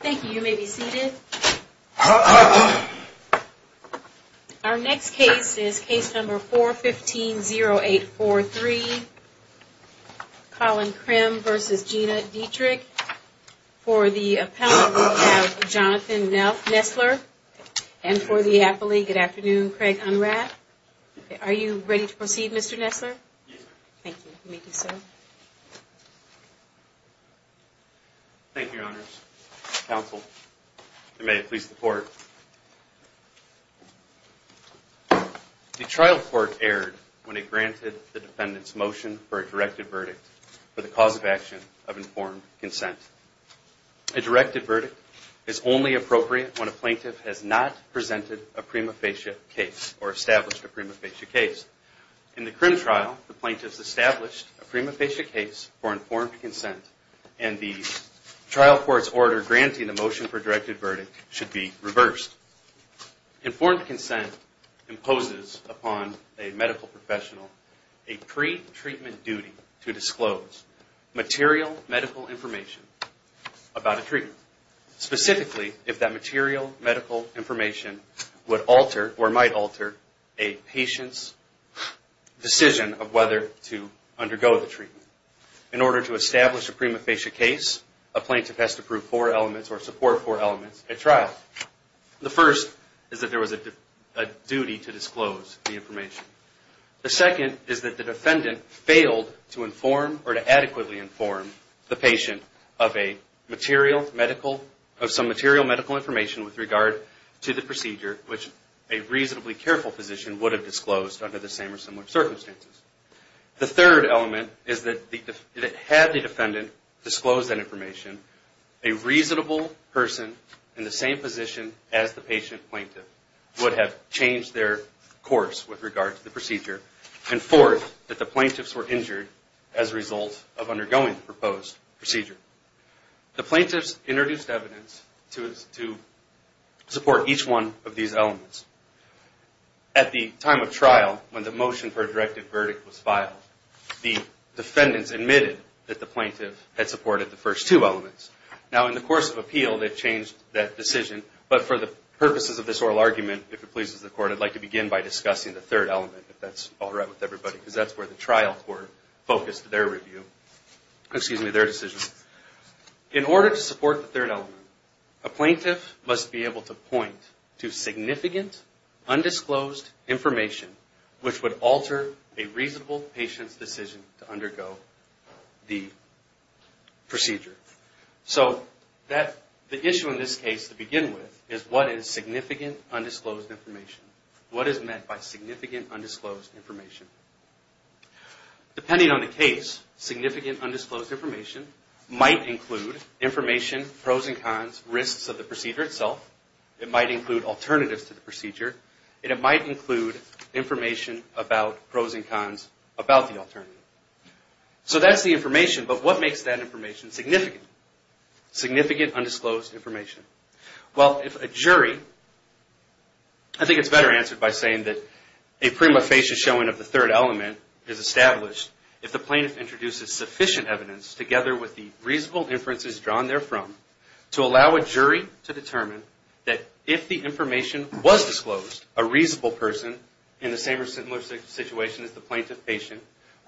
Thank you. You may be seated. Our next case is case number 415-0843. Colin Krim versus Gina Dietrich. For the appellant, we have Jonathan Nessler. And for the appellee, good afternoon, Craig Unrath. Are you ready to proceed, Mr. Nessler? Yes, ma'am. Thank you. You may be seated. Thank you, Your Honors. Counsel, and may it please the Court. The trial court erred when it granted the defendant's motion for a directed verdict for the cause of action of informed consent. A directed verdict is only appropriate when a plaintiff has not presented a prima facie case or established a prima facie case. In the Krim trial, the plaintiff has established a prima facie case for informed consent and the trial court's order granting the motion for a directed verdict should be reversed. Informed consent imposes upon a medical professional a pre-treatment duty to disclose material medical information about a treatment. Specifically, if that material medical information would alter or might alter a patient's decision of whether to undergo the treatment. In order to establish a prima facie case, a plaintiff has to prove four elements or support four elements at trial. The first is that there was a duty to disclose the information. The second is that the defendant failed to inform or to adequately inform the patient of some material medical information with regard to the procedure which a reasonably careful physician would have disclosed under the same or similar circumstances. The third element is that had the defendant disclosed that information, a reasonable person in the same position as the patient plaintiff would have changed their course with regard to the procedure. And fourth, that the plaintiffs were injured as a result of undergoing the proposed procedure. The plaintiffs introduced evidence to support each one of these elements. At the time of trial, when the motion for a directed verdict was filed, the defendants admitted that the plaintiff had supported the first two elements. Now in the course of appeal, they've changed that decision, but for the purposes of this oral argument, if it pleases the court, I'd like to begin by discussing the third element, if that's all right with everybody, because that's where the trial court focused their decision. In order to support the third element, a plaintiff must be able to point to significant undisclosed information which would alter a reasonable patient's decision to undergo the procedure. So the issue in this case to begin with is what is significant undisclosed information? What is meant by significant undisclosed information? Depending on the case, significant undisclosed information might include information, pros and cons, risks of the procedure itself. It might include alternatives to the procedure, and it might include information about pros and cons about the alternative. So that's the information, but what makes that information significant? Significant undisclosed information. Well, if a jury, I think it's better answered by saying that a prima facie showing of the third element is established if the plaintiff introduces sufficient evidence together with the reasonable inferences drawn therefrom to allow a jury to determine that if the information was disclosed, a reasonable person in the same or similar situation as the plaintiff patient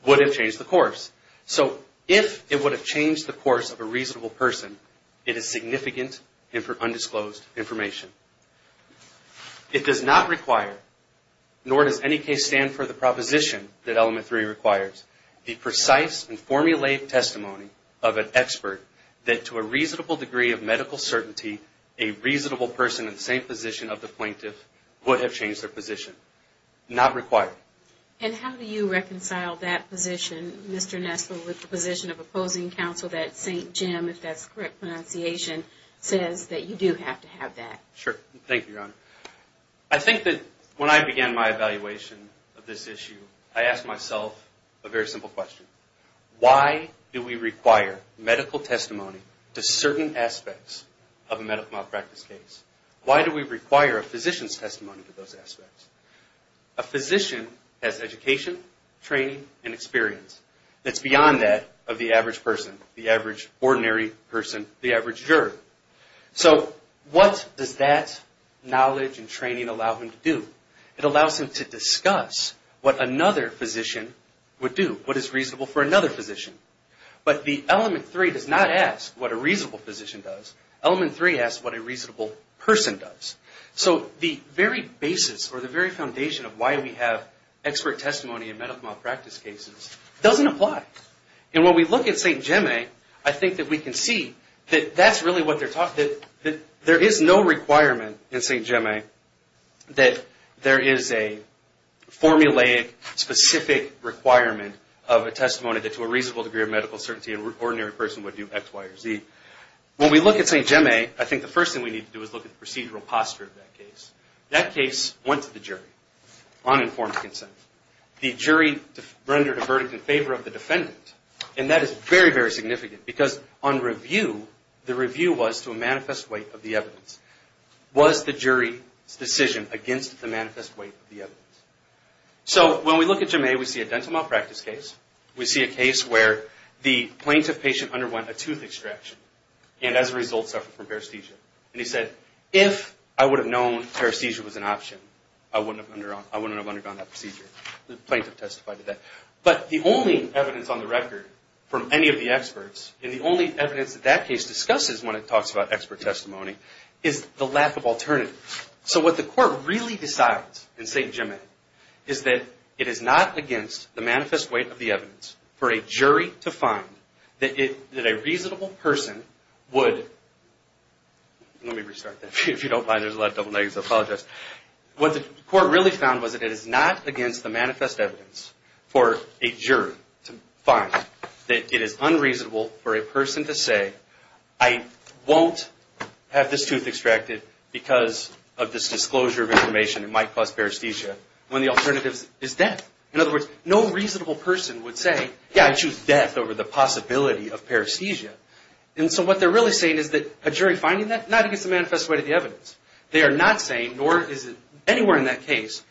would have changed the course. So if it would have changed the course of a reasonable person, it is significant undisclosed information. It does not require, nor does any case stand for the proposition that element three requires, the precise and formulated testimony of an expert that to a reasonable degree of medical certainty, a reasonable person in the same position of the plaintiff would have changed their position. Not required. And how do you reconcile that position, Mr. Nestle, with the position of opposing counsel that St. Jim, if that's the correct pronunciation, says that you do have to have that? Sure. Thank you, Your Honor. I think that when I began my evaluation of this issue, I asked myself a very simple question. Why do we require medical testimony to certain aspects of a medical malpractice case? Why do we require a physician's testimony to those aspects? A physician has education, training, and experience that's beyond that of the average person, the average ordinary person, the average juror. So what does that knowledge and training allow him to do? It allows him to discuss what another physician would do, what is reasonable for another physician. But the element three does not ask what a reasonable physician does. Element three asks what a reasonable person does. So the very basis or the very foundation of why we have expert testimony in medical malpractice cases doesn't apply. And when we look at St. Jim, I think that we can see that that's really what they're talking about, that there is no requirement in St. Jim that there is a formulaic, specific requirement of a testimony that to a reasonable degree of medical certainty an ordinary person would do X, Y, or Z. When we look at St. Jim, I think the first thing we need to do is look at the procedural posture of that case. That case went to the jury on informed consent. The jury rendered a verdict in favor of the defendant. And that is very, very significant, because on review, the review was to a manifest weight of the evidence. Was the jury's decision against the manifest weight of the evidence? So when we look at Jim A, we see a dental malpractice case. We see a case where the plaintiff patient underwent a tooth extraction and as a result suffered from paresthesia. And he said, if I would have known paresthesia was an option, I wouldn't have undergone that procedure. The plaintiff testified to that. But the only evidence on the record from any of the experts, and the only evidence that that case discusses when it talks about expert testimony, is the lack of alternative. So what the court really decides in St. Jim A, is that it is not against the manifest weight of the evidence for a jury to find that a reasonable person would... Let me restart that. If you don't mind, there's a lot of double negatives. I apologize. What the court really found was that it is not against the manifest evidence for a jury to find that it is unreasonable for a person to say, I won't have this tooth extracted because of this disclosure of information that might cause paresthesia, when the alternative is death. In other words, no reasonable person would say, yeah, I choose death over the possibility of paresthesia. And so what they're really saying is that a jury finding that, not against the manifest weight of the evidence. They are not saying, nor is it anywhere in that case,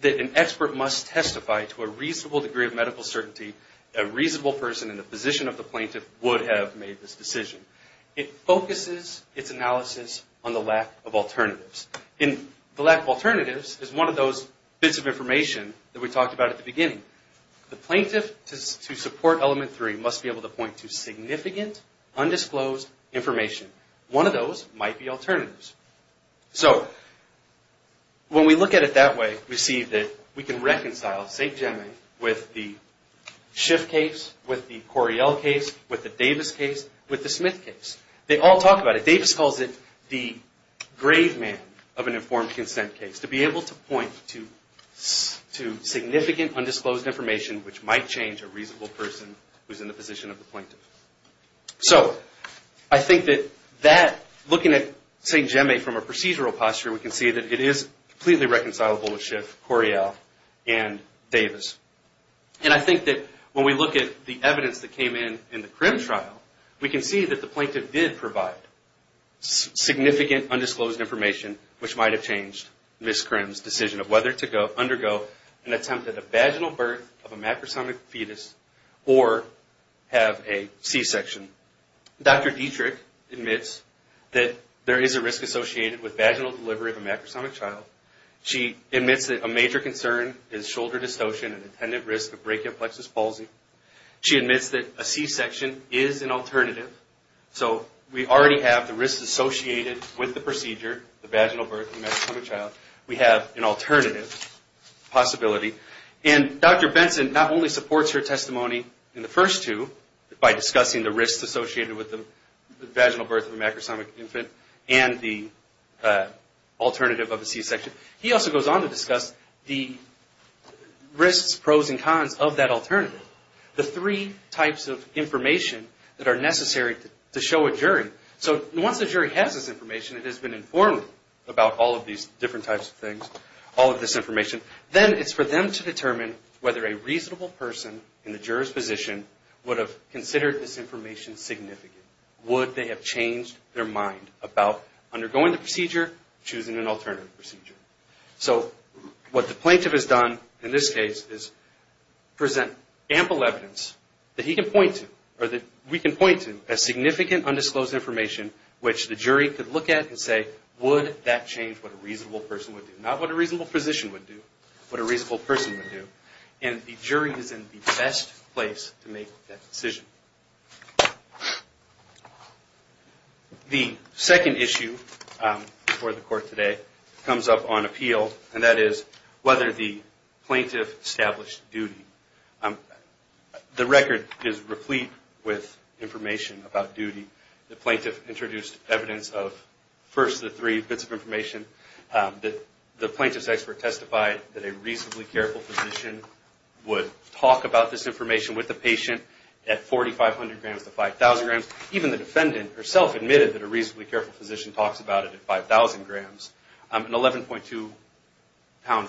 that an expert must testify to a reasonable degree of medical certainty that a reasonable person in the position of the plaintiff would have made this decision. It focuses its analysis on the lack of alternatives. And the lack of alternatives is one of those bits of information that we talked about at the beginning. The plaintiff, to support element three, must be able to point to significant, undisclosed information. One of those might be alternatives. So, when we look at it that way, we see that we can reconcile St. Jemmings with the Schiff case, with the Coriell case, with the Davis case, with the Smith case. They all talk about it. Davis calls it the grave man of an informed consent case. To be able to point to significant, undisclosed information, which might change a reasonable person who is in the position of the plaintiff. So, I think that looking at St. Jemmings from a procedural posture, we can see that it is completely reconcilable with Schiff, Coriell, and Davis. And I think that when we look at the evidence that came in in the Crim trial, we can see that the plaintiff did provide significant, undisclosed information, which might have changed Ms. Crim's decision of whether to undergo an attempt at a vaginal birth of a macrosomic fetus or have a C-section. Dr. Dietrich admits that there is a risk associated with vaginal delivery of a macrosomic child. She admits that a major concern is shoulder dystocia and an intended risk of brachial plexus palsy. She admits that a C-section is an alternative. So, we already have the risks associated with the procedure, the vaginal birth of a macrosomic child. We have an alternative possibility. And Dr. Benson not only supports her testimony in the first two by discussing the risks associated with the vaginal birth of a macrosomic infant and the alternative of a C-section. He also goes on to discuss the risks, pros, and cons of that alternative, the three types of information that are necessary to show a jury. So, once the jury has this information, it has been informed about all of these different types of things, all of this information, then it's for them to determine whether a reasonable person in the juror's position would have considered this information significant. Would they have changed their mind about undergoing the procedure, choosing an alternative procedure? So, what the plaintiff has done in this case is present ample evidence that he can point to, or that we can point to, as significant undisclosed information which the jury could look at and say, would that change what a reasonable person would do? Not what a reasonable physician would do, but what a reasonable person would do. And the jury is in the best place to make that decision. The second issue before the Court today comes up on appeal, and that is whether the plaintiff established duty. The record is replete with information about duty. The plaintiff introduced evidence of, first, the three bits of information. The plaintiff's expert testified that a reasonably careful physician would talk about this information with the patient at 4,500 grams to 5,000 grams. Even the defendant herself admitted that a reasonably careful physician talks about it at 5,000 grams. An 11.2 pound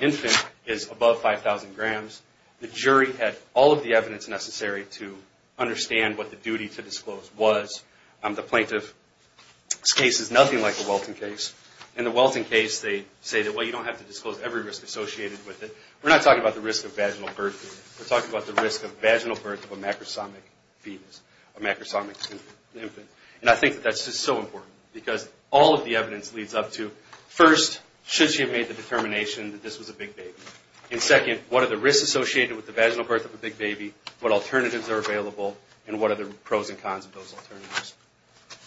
infant is above 5,000 grams. The jury had all of the evidence necessary to understand what the duty to disclose was. The plaintiff's case is nothing like the Welton case. In the Welton case, they say that, well, you don't have to disclose every risk associated with it. We're not talking about the risk of vaginal birth. We're talking about the risk of vaginal birth of a macrosomic fetus, a macrosomic infant. And I think that that's just so important, because all of the evidence leads up to, first, should she have made the determination that this was a big baby? And, second, what are the risks associated with the vaginal birth of a big baby, what alternatives are available, and what are the pros and cons of those alternatives?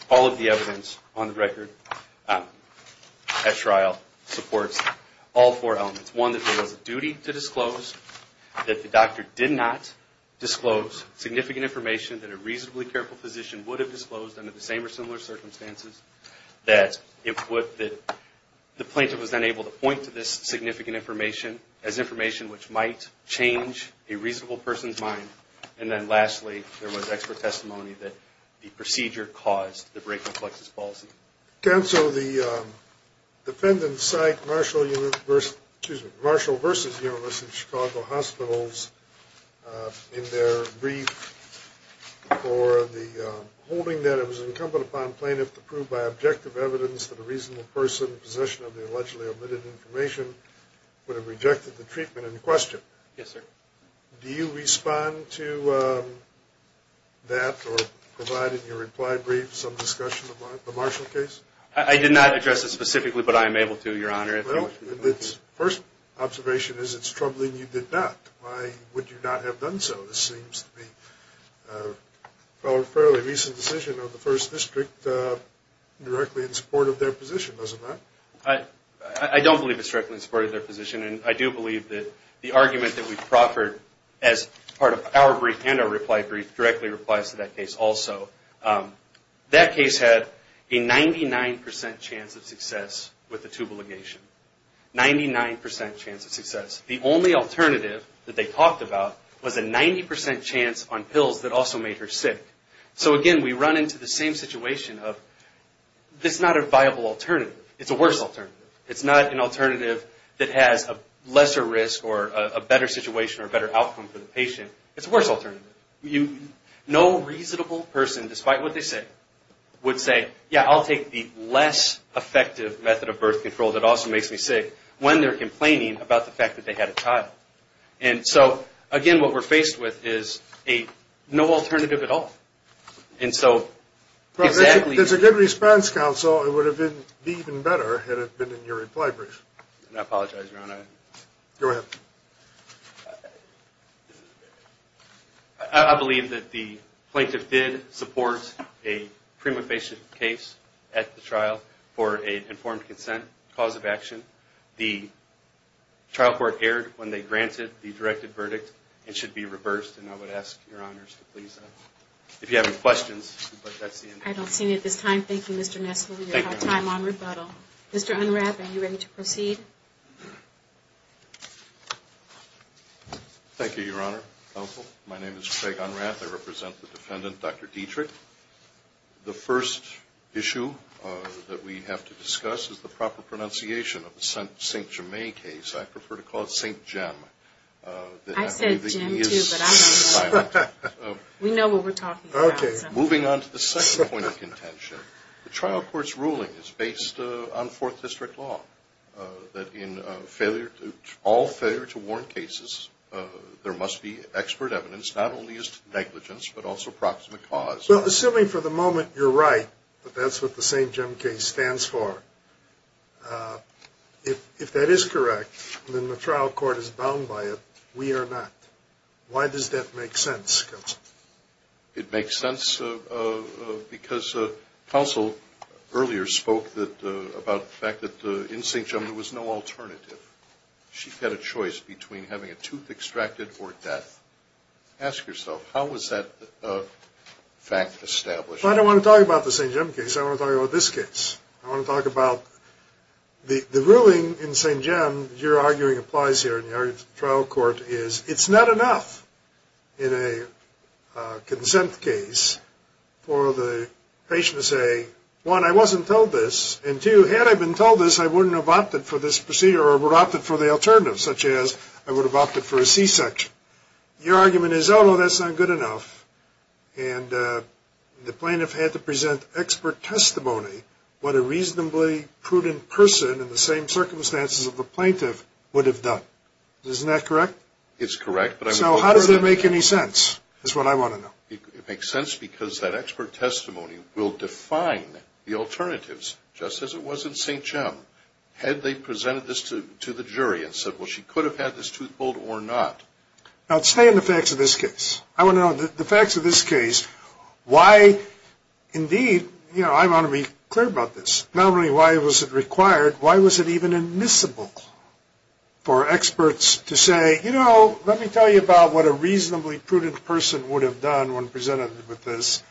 All of the evidence on the record at trial supports all four elements. One, that there was a duty to disclose, that the doctor did not disclose significant information that a reasonably careful physician would have disclosed under the same or similar circumstances, that the plaintiff was then able to point to this significant information as information which might change a reasonable person's mind. And then, lastly, there was expert testimony that the procedure caused the brake-reflexes policy. Counsel, the defendants cite Marshall versus University of Chicago Hospitals in their brief for the holding that it was incumbent upon plaintiff to prove by objective evidence that a reasonable person in possession of the allegedly omitted information would have rejected the treatment in question. Yes, sir. Do you respond to that or provide in your reply brief some discussion about the Marshall case? I did not address it specifically, but I am able to, Your Honor. Well, the first observation is it's troubling you did not. Why would you not have done so? This seems to be a fairly recent decision of the First District, directly in support of their position, doesn't it? I don't believe it's directly in support of their position, and I do believe that the argument that we've proffered as part of our brief and our reply brief directly applies to that case also. That case had a 99% chance of success with the tubal ligation, 99% chance of success. The only alternative that they talked about was a 90% chance on pills that also made her sick. So, again, we run into the same situation of this is not a viable alternative. It's a worse alternative. It's not an alternative that has a lesser risk or a better situation or a better outcome for the patient. It's a worse alternative. No reasonable person, despite what they say, would say, yeah, I'll take the less effective method of birth control that also makes me sick when they're complaining about the fact that they had a child. And so, again, what we're faced with is a no alternative at all. And so, exactly. If there's a good response, counsel, it would have been even better had it been in your reply brief. I apologize, Your Honor. Go ahead. I believe that the plaintiff did support a prima facie case at the trial for an informed consent cause of action. The trial court erred when they granted the directed verdict. It should be reversed, and I would ask Your Honors to please, if you have any questions. I don't see any at this time. Thank you, Mr. Nessel. We have time on rebuttal. Mr. Unrath, are you ready to proceed? Thank you, Your Honor, counsel. My name is Craig Unrath. I represent the defendant, Dr. Dietrich. The first issue that we have to discuss is the proper pronunciation of the St. Germain case. I prefer to call it St. Jim. I said Jim, too, but I don't know. We know what we're talking about. Moving on to the second point of contention, the trial court's ruling is based on Fourth District law, that in all failure to warrant cases, there must be expert evidence not only as to negligence but also proximate cause. Well, assuming for the moment you're right that that's what the St. Jim case stands for, if that is correct, then the trial court is bound by it. We are not. Why does that make sense, counsel? It makes sense because counsel earlier spoke about the fact that in St. Jim there was no alternative. She had a choice between having a tooth extracted or death. Ask yourself, how was that fact established? Well, I don't want to talk about the St. Jim case. I want to talk about this case. I want to talk about the ruling in St. Jim, your arguing applies here in the trial court, is it's not enough in a consent case for the patient to say, one, I wasn't told this, and, two, had I been told this, I wouldn't have opted for this procedure or would have opted for the alternative, such as I would have opted for a C-section. Your argument is, oh, no, that's not good enough, and the plaintiff had to present expert testimony, what a reasonably prudent person in the same circumstances of the plaintiff would have done. Isn't that correct? It's correct. So how does that make any sense is what I want to know. It makes sense because that expert testimony will define the alternatives just as it was in St. Jim. Had they presented this to the jury and said, well, she could have had this tooth pulled or not. Now, stay in the facts of this case. I want to know the facts of this case. Why, indeed, you know, I want to be clear about this. Not only why was it required, why was it even admissible for experts to say, you know, let me tell you about what a reasonably prudent person would have done when presented with this,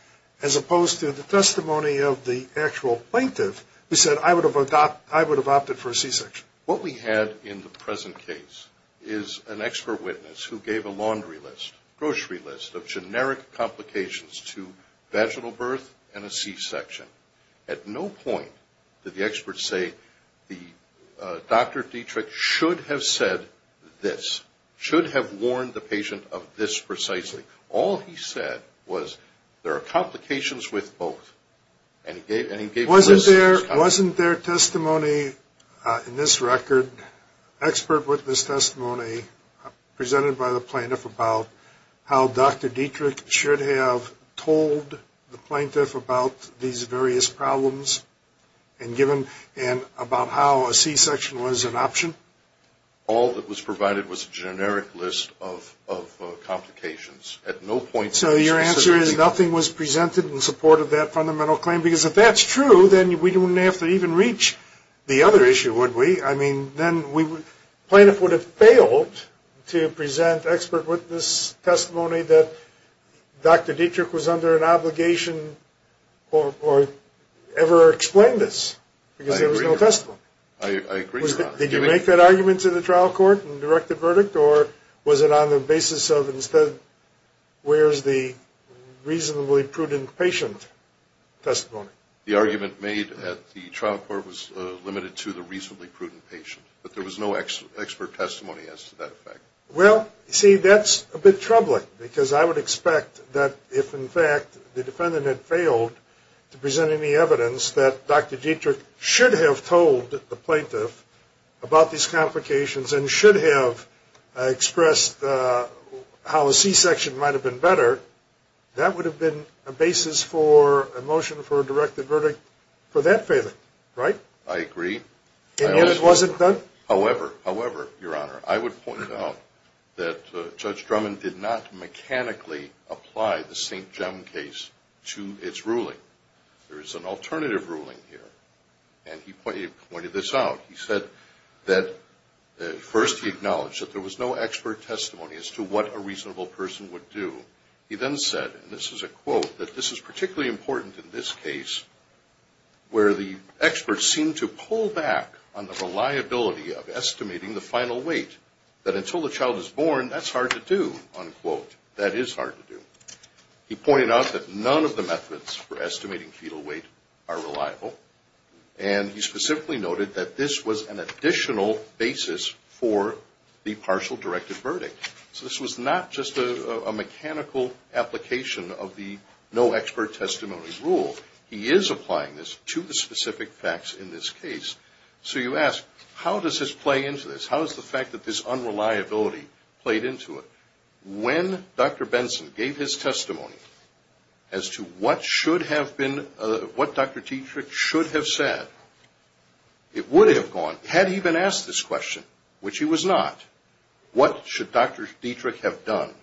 as opposed to the testimony of the actual plaintiff who said, I would have opted for a C-section. What we had in the present case is an expert witness who gave a laundry list, grocery list of generic complications to vaginal birth and a C-section. At no point did the experts say, Dr. Dietrich should have said this, should have warned the patient of this precisely. All he said was there are complications with both. And he gave a list. Wasn't there testimony in this record, expert witness testimony, presented by the plaintiff about how Dr. Dietrich should have told the plaintiff about these various problems and given about how a C-section was an option? All that was provided was a generic list of complications. So your answer is nothing was presented in support of that fundamental claim? Because if that's true, then we wouldn't have to even reach the other issue, would we? I mean, then plaintiff would have failed to present expert witness testimony that Dr. Dietrich was under an obligation or ever explained this because there was no testimony. I agree with that. Did you make that argument to the trial court and direct the verdict, or was it on the basis of instead where's the reasonably prudent patient testimony? The argument made at the trial court was limited to the reasonably prudent patient, but there was no expert testimony as to that effect. Well, see, that's a bit troubling because I would expect that if, in fact, the defendant had failed to present any evidence that Dr. Dietrich should have told the plaintiff about these complications and should have expressed how a C-section might have been better, that would have been a basis for a motion for a directed verdict for that failure, right? I agree. And yet it wasn't done? However, however, Your Honor, I would point out that Judge Drummond did not mechanically apply the St. Jem case to its ruling. There is an alternative ruling here, and he pointed this out. He said that first he acknowledged that there was no expert testimony as to what a reasonable person would do. He then said, and this is a quote, that this is particularly important in this case where the experts seem to pull back on the reliability of estimating the final weight, that until the child is born, that's hard to do, unquote. That is hard to do. He pointed out that none of the methods for estimating fetal weight are reliable, and he specifically noted that this was an additional basis for the partial directed verdict. So this was not just a mechanical application of the no expert testimony rule. He is applying this to the specific facts in this case. So you ask, how does this play into this? How is the fact that this unreliability played into it? When Dr. Benson gave his testimony as to what should have been, what Dr. Dietrich should have said, it would have gone, had he been asked this question, which he was not, what should Dr. Dietrich have done?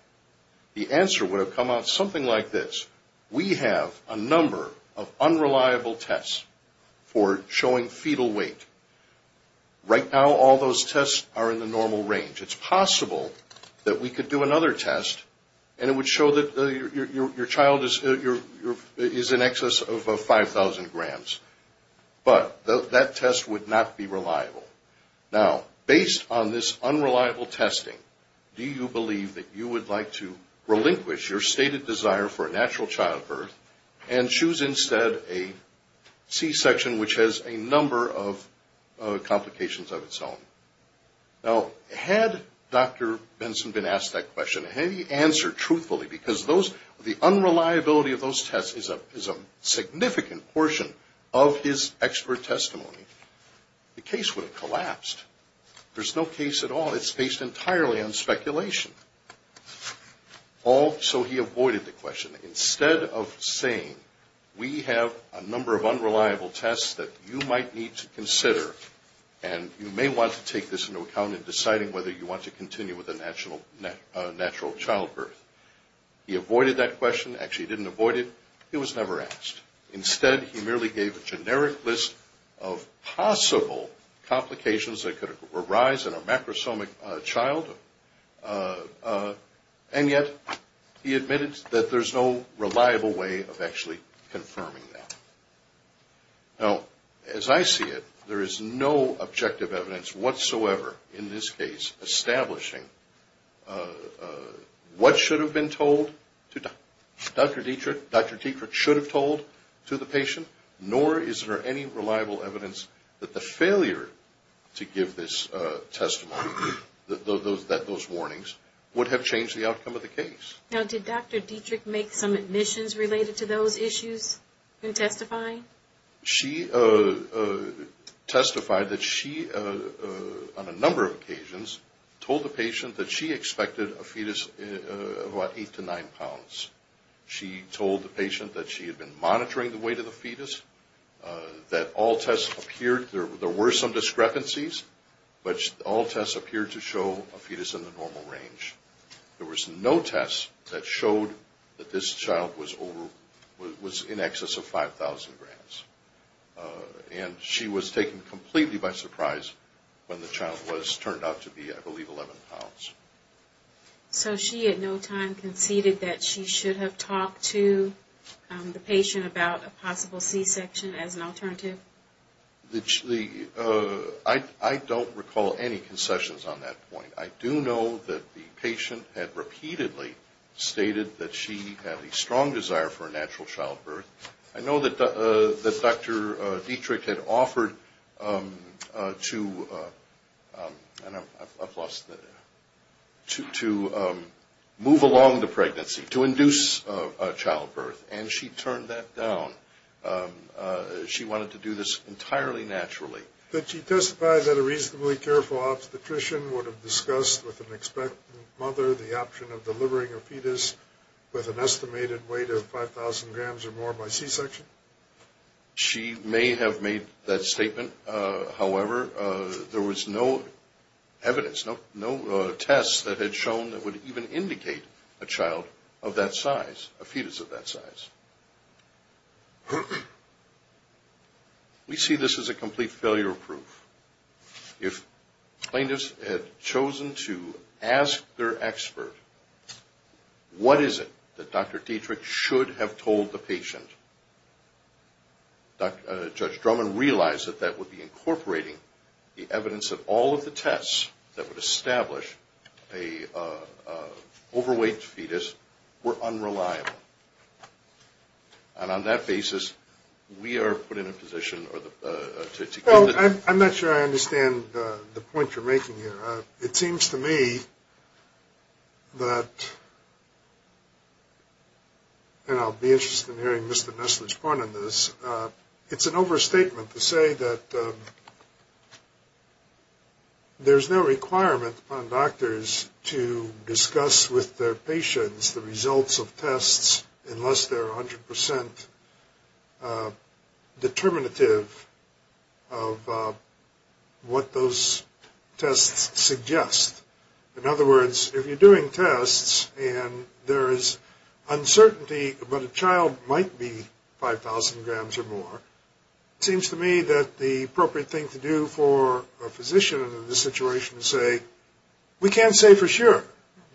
The answer would have come out something like this. We have a number of unreliable tests for showing fetal weight. Right now, all those tests are in the normal range. It's possible that we could do another test, and it would show that your child is in excess of 5,000 grams, but that test would not be reliable. Now, based on this unreliable testing, do you believe that you would like to relinquish your stated desire for a natural childbirth and choose instead a C-section which has a number of complications of its own? Now, had Dr. Benson been asked that question, had he answered truthfully, because the unreliability of those tests is a significant portion of his expert testimony, the case would have collapsed. There's no case at all. It's based entirely on speculation. Also, he avoided the question. Instead of saying, we have a number of unreliable tests that you might need to consider, and you may want to take this into account in deciding whether you want to continue with a natural childbirth, he avoided that question. Actually, he didn't avoid it. It was never asked. Instead, he merely gave a generic list of possible complications that could arise in a macrosomic child, and yet he admitted that there's no reliable way of actually confirming that. Now, as I see it, there is no objective evidence whatsoever in this case establishing what should have been told to Dr. Dietrich. Dr. Dietrich should have told to the patient, nor is there any reliable evidence that the failure to give this testimony, that those warnings, would have changed the outcome of the case. Now, did Dr. Dietrich make some admissions related to those issues in testifying? She testified that she, on a number of occasions, told the patient that she expected a fetus of about 8 to 9 pounds. She told the patient that she had been monitoring the weight of the fetus, that all tests appeared, there were some discrepancies, but all tests appeared to show a fetus in the normal range. There was no test that showed that this child was in excess of 5,000 grams, and she was taken completely by surprise when the child was turned out to be, I believe, 11 pounds. So she at no time conceded that she should have talked to the patient about a possible C-section as an alternative? I don't recall any concessions on that point. I do know that the patient had repeatedly stated that she had a strong desire for a natural childbirth. I know that Dr. Dietrich had offered to move along the pregnancy, to induce a childbirth, and she turned that down. She wanted to do this entirely naturally. Did she testify that a reasonably careful obstetrician would have discussed with an expectant mother the option of delivering a fetus with an estimated weight of 5,000 grams or more by C-section? She may have made that statement. However, there was no evidence, no tests that had shown that would even indicate a child of that size, a fetus of that size. We see this as a complete failure proof. If plaintiffs had chosen to ask their expert, what is it that Dr. Dietrich should have told the patient, Judge Drummond realized that that would be incorporating the evidence that all of the tests that would establish an overweight fetus were unreliable. And on that basis, we are put in a position to... Well, I'm not sure I understand the point you're making here. It seems to me that, and I'll be interested in hearing Mr. Nestler's point on this, it's an overstatement to say that there's no requirement on doctors to discuss with their patients the results of tests unless they're 100% determinative of what those tests suggest. In other words, if you're doing tests and there is uncertainty that a child might be 5,000 grams or more, it seems to me that the appropriate thing to do for a physician in this situation is say, we can't say for sure,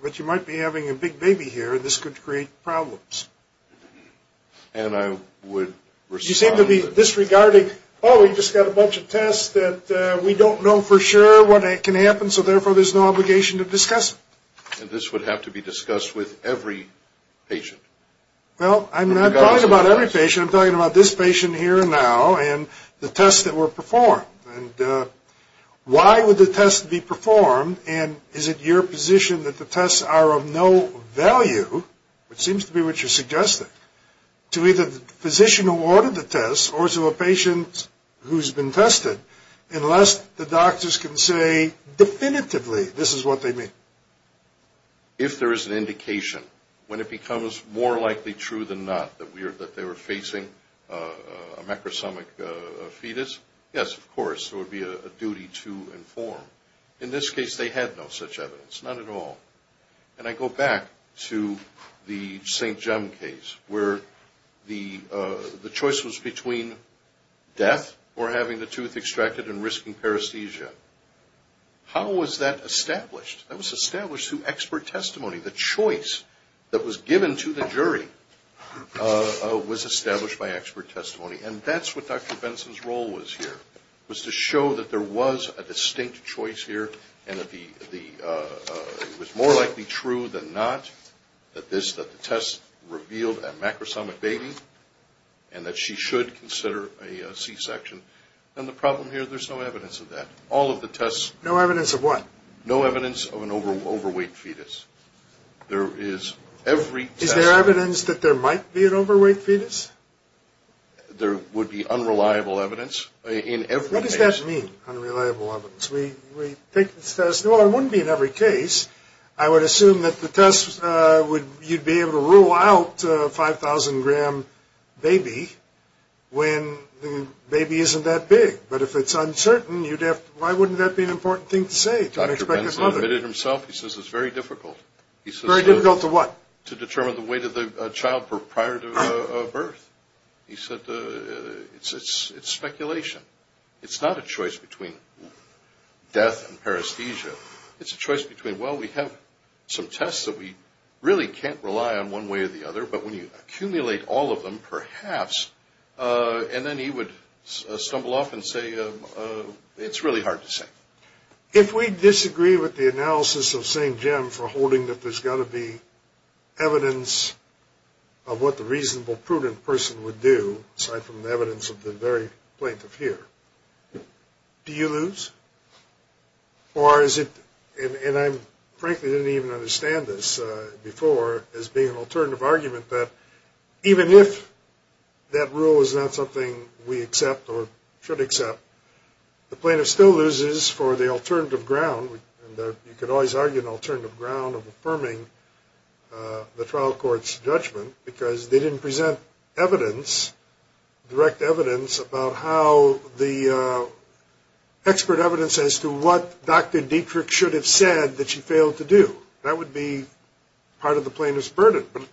but you might be having a big baby here and this could create problems. And I would respond... You seem to be disregarding, oh, we just got a bunch of tests that we don't know for sure what can happen, so therefore there's no obligation to discuss it. And this would have to be discussed with every patient. Well, I'm not talking about every patient. I'm talking about this patient here and now and the tests that were performed. And why would the tests be performed, and is it your position that the tests are of no value, which seems to be what you're suggesting, to either the physician who ordered the tests or to a patient who's been tested unless the doctors can say definitively this is what they mean? If there is an indication, when it becomes more likely true than not that they were facing a macrosomic fetus, yes, of course, it would be a duty to inform. In this case, they had no such evidence, none at all. And I go back to the St. Jem case where the choice was between death or having the tooth extracted and risking paresthesia. How was that established? That was established through expert testimony. The choice that was given to the jury was established by expert testimony. And that's what Dr. Benson's role was here, was to show that there was a distinct choice here and that it was more likely true than not that the tests revealed a macrosomic baby and that she should consider a C-section. And the problem here, there's no evidence of that. All of the tests... No evidence of what? No evidence of an overweight fetus. There is every test... Is there evidence that there might be an overweight fetus? There would be unreliable evidence in every case. What does that mean, unreliable evidence? We think the test... Well, it wouldn't be in every case. I would assume that the test would... You'd be able to rule out a 5,000-gram baby when the baby isn't that big. But if it's uncertain, you'd have to... Why wouldn't that be an important thing to say to an expectant mother? Dr. Benson admitted himself. He says it's very difficult. He says... Very difficult to what? To determine the weight of the child prior to birth. He said it's speculation. It's not a choice between death and paresthesia. It's a choice between, well, we have some tests that we really can't rely on one way or the other, but when you accumulate all of them, perhaps... And then he would stumble off and say, it's really hard to say. If we disagree with the analysis of St. Jim for holding that there's got to be evidence of what the reasonable, prudent person would do, aside from the evidence of the very plaintiff here, do you lose? Or is it... And I frankly didn't even understand this before as being an alternative argument, that even if that rule is not something we accept or should accept, the plaintiff still loses for the alternative ground, and you could always argue an alternative ground of affirming the trial court's judgment because they didn't present evidence, direct evidence, about how the expert evidence as to what Dr. Dietrich should have said that she failed to do. That would be part of the plaintiff's burden. But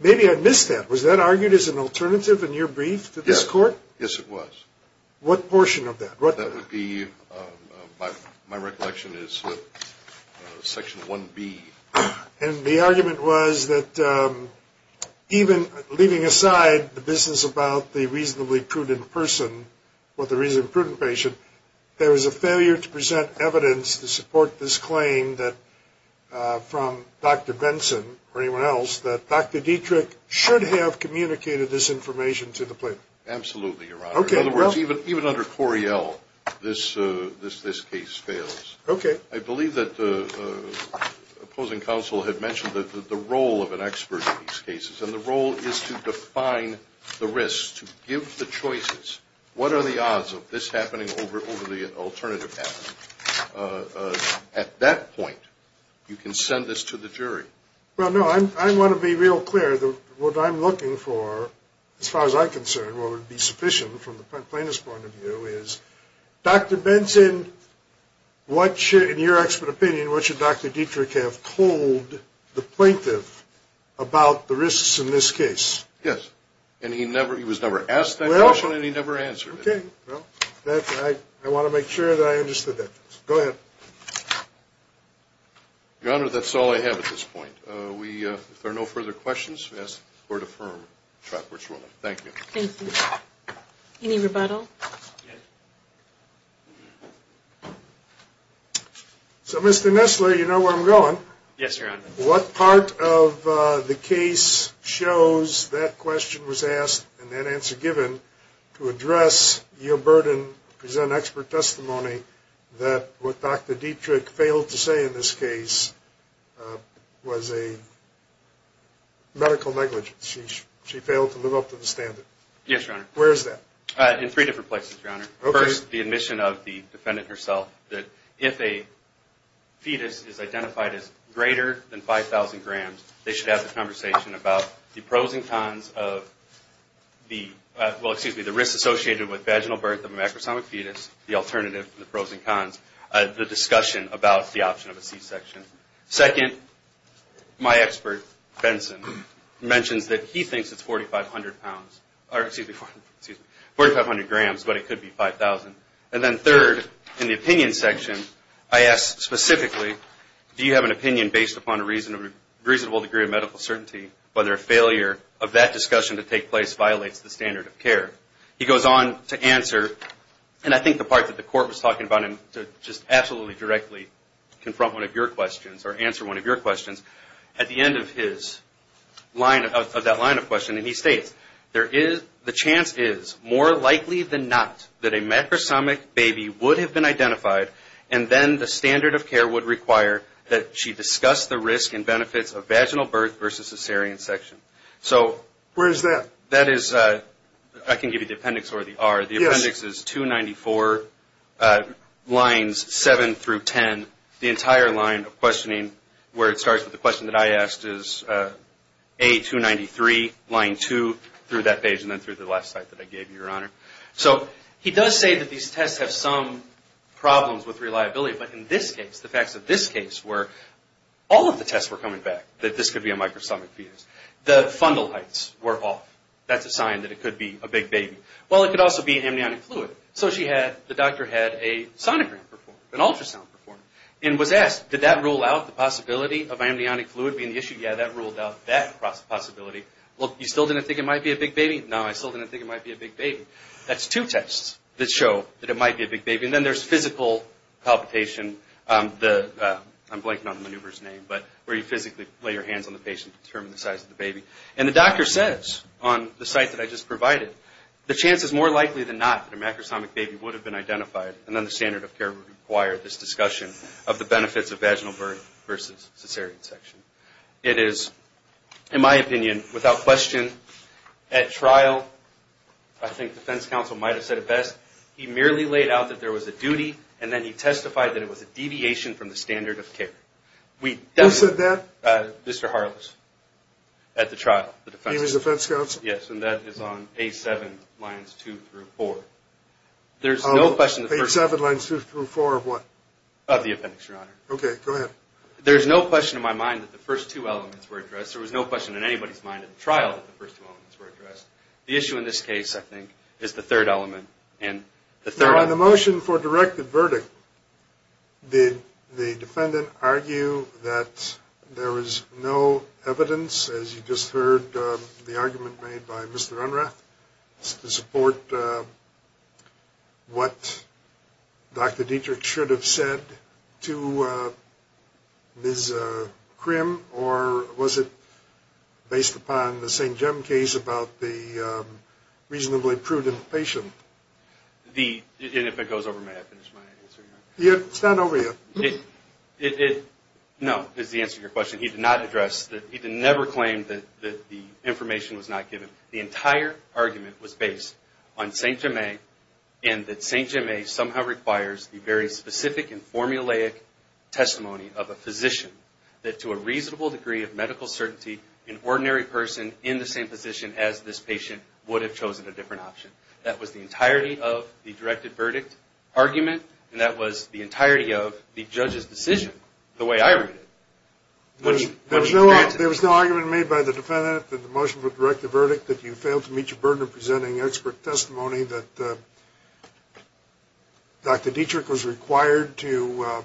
maybe I missed that. Was that argued as an alternative in your brief to this court? Yes, it was. What portion of that? That would be, my recollection is, Section 1B. And the argument was that even leaving aside the business about the reasonably prudent person or the reasonably prudent patient, there was a failure to present evidence to support this claim from Dr. Benson or anyone else that Dr. Dietrich should have communicated this information to the plaintiff. Absolutely, Your Honor. Okay. In other words, even under Corriell, this case fails. Okay. I believe that the opposing counsel had mentioned the role of an expert in these cases, and the role is to define the risks, to give the choices. What are the odds of this happening over the alternative path? At that point, you can send this to the jury. Well, no, I want to be real clear. from the plaintiff's point of view is, Dr. Benson, in your expert opinion, what should Dr. Dietrich have told the plaintiff about the risks in this case? Yes. And he was never asked that question and he never answered it. Okay. Well, I want to make sure that I understood that. Go ahead. Your Honor, that's all I have at this point. If there are no further questions, we ask the Court to affirm Trackworth's ruling. Thank you. Thank you. Any rebuttal? So, Mr. Nessler, you know where I'm going. Yes, Your Honor. What part of the case shows that question was asked and that answer given to address your burden to present expert testimony that what Dr. Dietrich failed to say in this case was a medical negligence. She failed to live up to the standard. Yes, Your Honor. Where is that? In three different places, Your Honor. Okay. First, the admission of the defendant herself that if a fetus is identified as greater than 5,000 grams, they should have the conversation about the pros and cons of the risk associated with vaginal birth of a macrosomic fetus, the alternative to the pros and cons, the discussion about the option of a C-section. Second, my expert, Benson, mentions that he thinks it's 4,500 grams, but it could be 5,000. And then third, in the opinion section, I ask specifically, do you have an opinion based upon a reasonable degree of medical certainty whether a failure of that discussion to take place violates the standard of care? He goes on to answer, and I think the part that the Court was talking about, to just absolutely directly confront one of your questions or answer one of your questions, at the end of that line of questioning, he states, the chance is more likely than not that a macrosomic baby would have been identified and then the standard of care would require that she discuss the risk and benefits of vaginal birth versus a C-section. Where is that? That is, I can give you the appendix or the R. The appendix is 294, lines 7 through 10. The entire line of questioning where it starts with the question that I asked is A-293, line 2, through that page and then through the last slide that I gave you, Your Honor. So he does say that these tests have some problems with reliability, but in this case, the facts of this case were all of the tests were coming back that this could be a microsomic fetus. The fundal heights were off. That's a sign that it could be a big baby. Well, it could also be amniotic fluid. So the doctor had a sonogram performed, an ultrasound performed, and was asked did that rule out the possibility of amniotic fluid being the issue? Yeah, that ruled out that possibility. Well, you still didn't think it might be a big baby? No, I still didn't think it might be a big baby. That's two tests that show that it might be a big baby. And then there's physical palpitation, I'm blanking on the maneuver's name, and the doctor says on the site that I just provided, the chance is more likely than not that a macrosomic baby would have been identified and then the standard of care would require this discussion of the benefits of vaginal birth versus cesarean section. It is, in my opinion, without question, at trial, I think defense counsel might have said it best, he merely laid out that there was a duty and then he testified that it was a deviation from the standard of care. Who said that? Mr. Harless at the trial, the defense. He was defense counsel? Yes, and that is on page 7, lines 2 through 4. Page 7, lines 2 through 4 of what? Of the appendix, Your Honor. Okay, go ahead. There's no question in my mind that the first two elements were addressed. There was no question in anybody's mind at the trial that the first two elements were addressed. The issue in this case, I think, is the third element. On the motion for directed verdict, did the defendant argue that there was no evidence, as you just heard, the argument made by Mr. Unrath to support what Dr. Dietrich should have said to Ms. Crimm or was it based upon the St. Jem case about the reasonably prudent patient? And if it goes over, may I finish my answer, Your Honor? It's not over yet. No, is the answer to your question. He did not address that. He never claimed that the information was not given. The entire argument was based on St. Jemmé and that St. Jemmé somehow requires the very specific and formulaic testimony of a physician that to a reasonable degree of medical certainty, an ordinary person in the same position as this patient would have chosen a different option. That was the entirety of the directed verdict argument and that was the entirety of the judge's decision, the way I read it. There was no argument made by the defendant in the motion for directed verdict that you failed to meet your burden of presenting expert testimony, that Dr. Dietrich was required to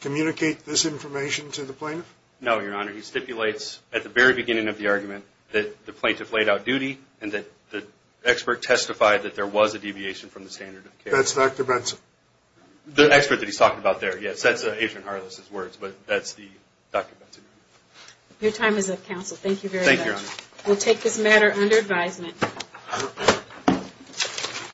communicate this information to the plaintiff? No, Your Honor. He stipulates at the very beginning of the argument that the plaintiff laid out duty and that the expert testified that there was a deviation from the standard of care. That's Dr. Benson. The expert that he's talking about there, yes, that's Adrian Harless' words, but that's Dr. Benson. Your time is up, counsel. Thank you very much. Thank you, Your Honor. We'll take this matter under advisement.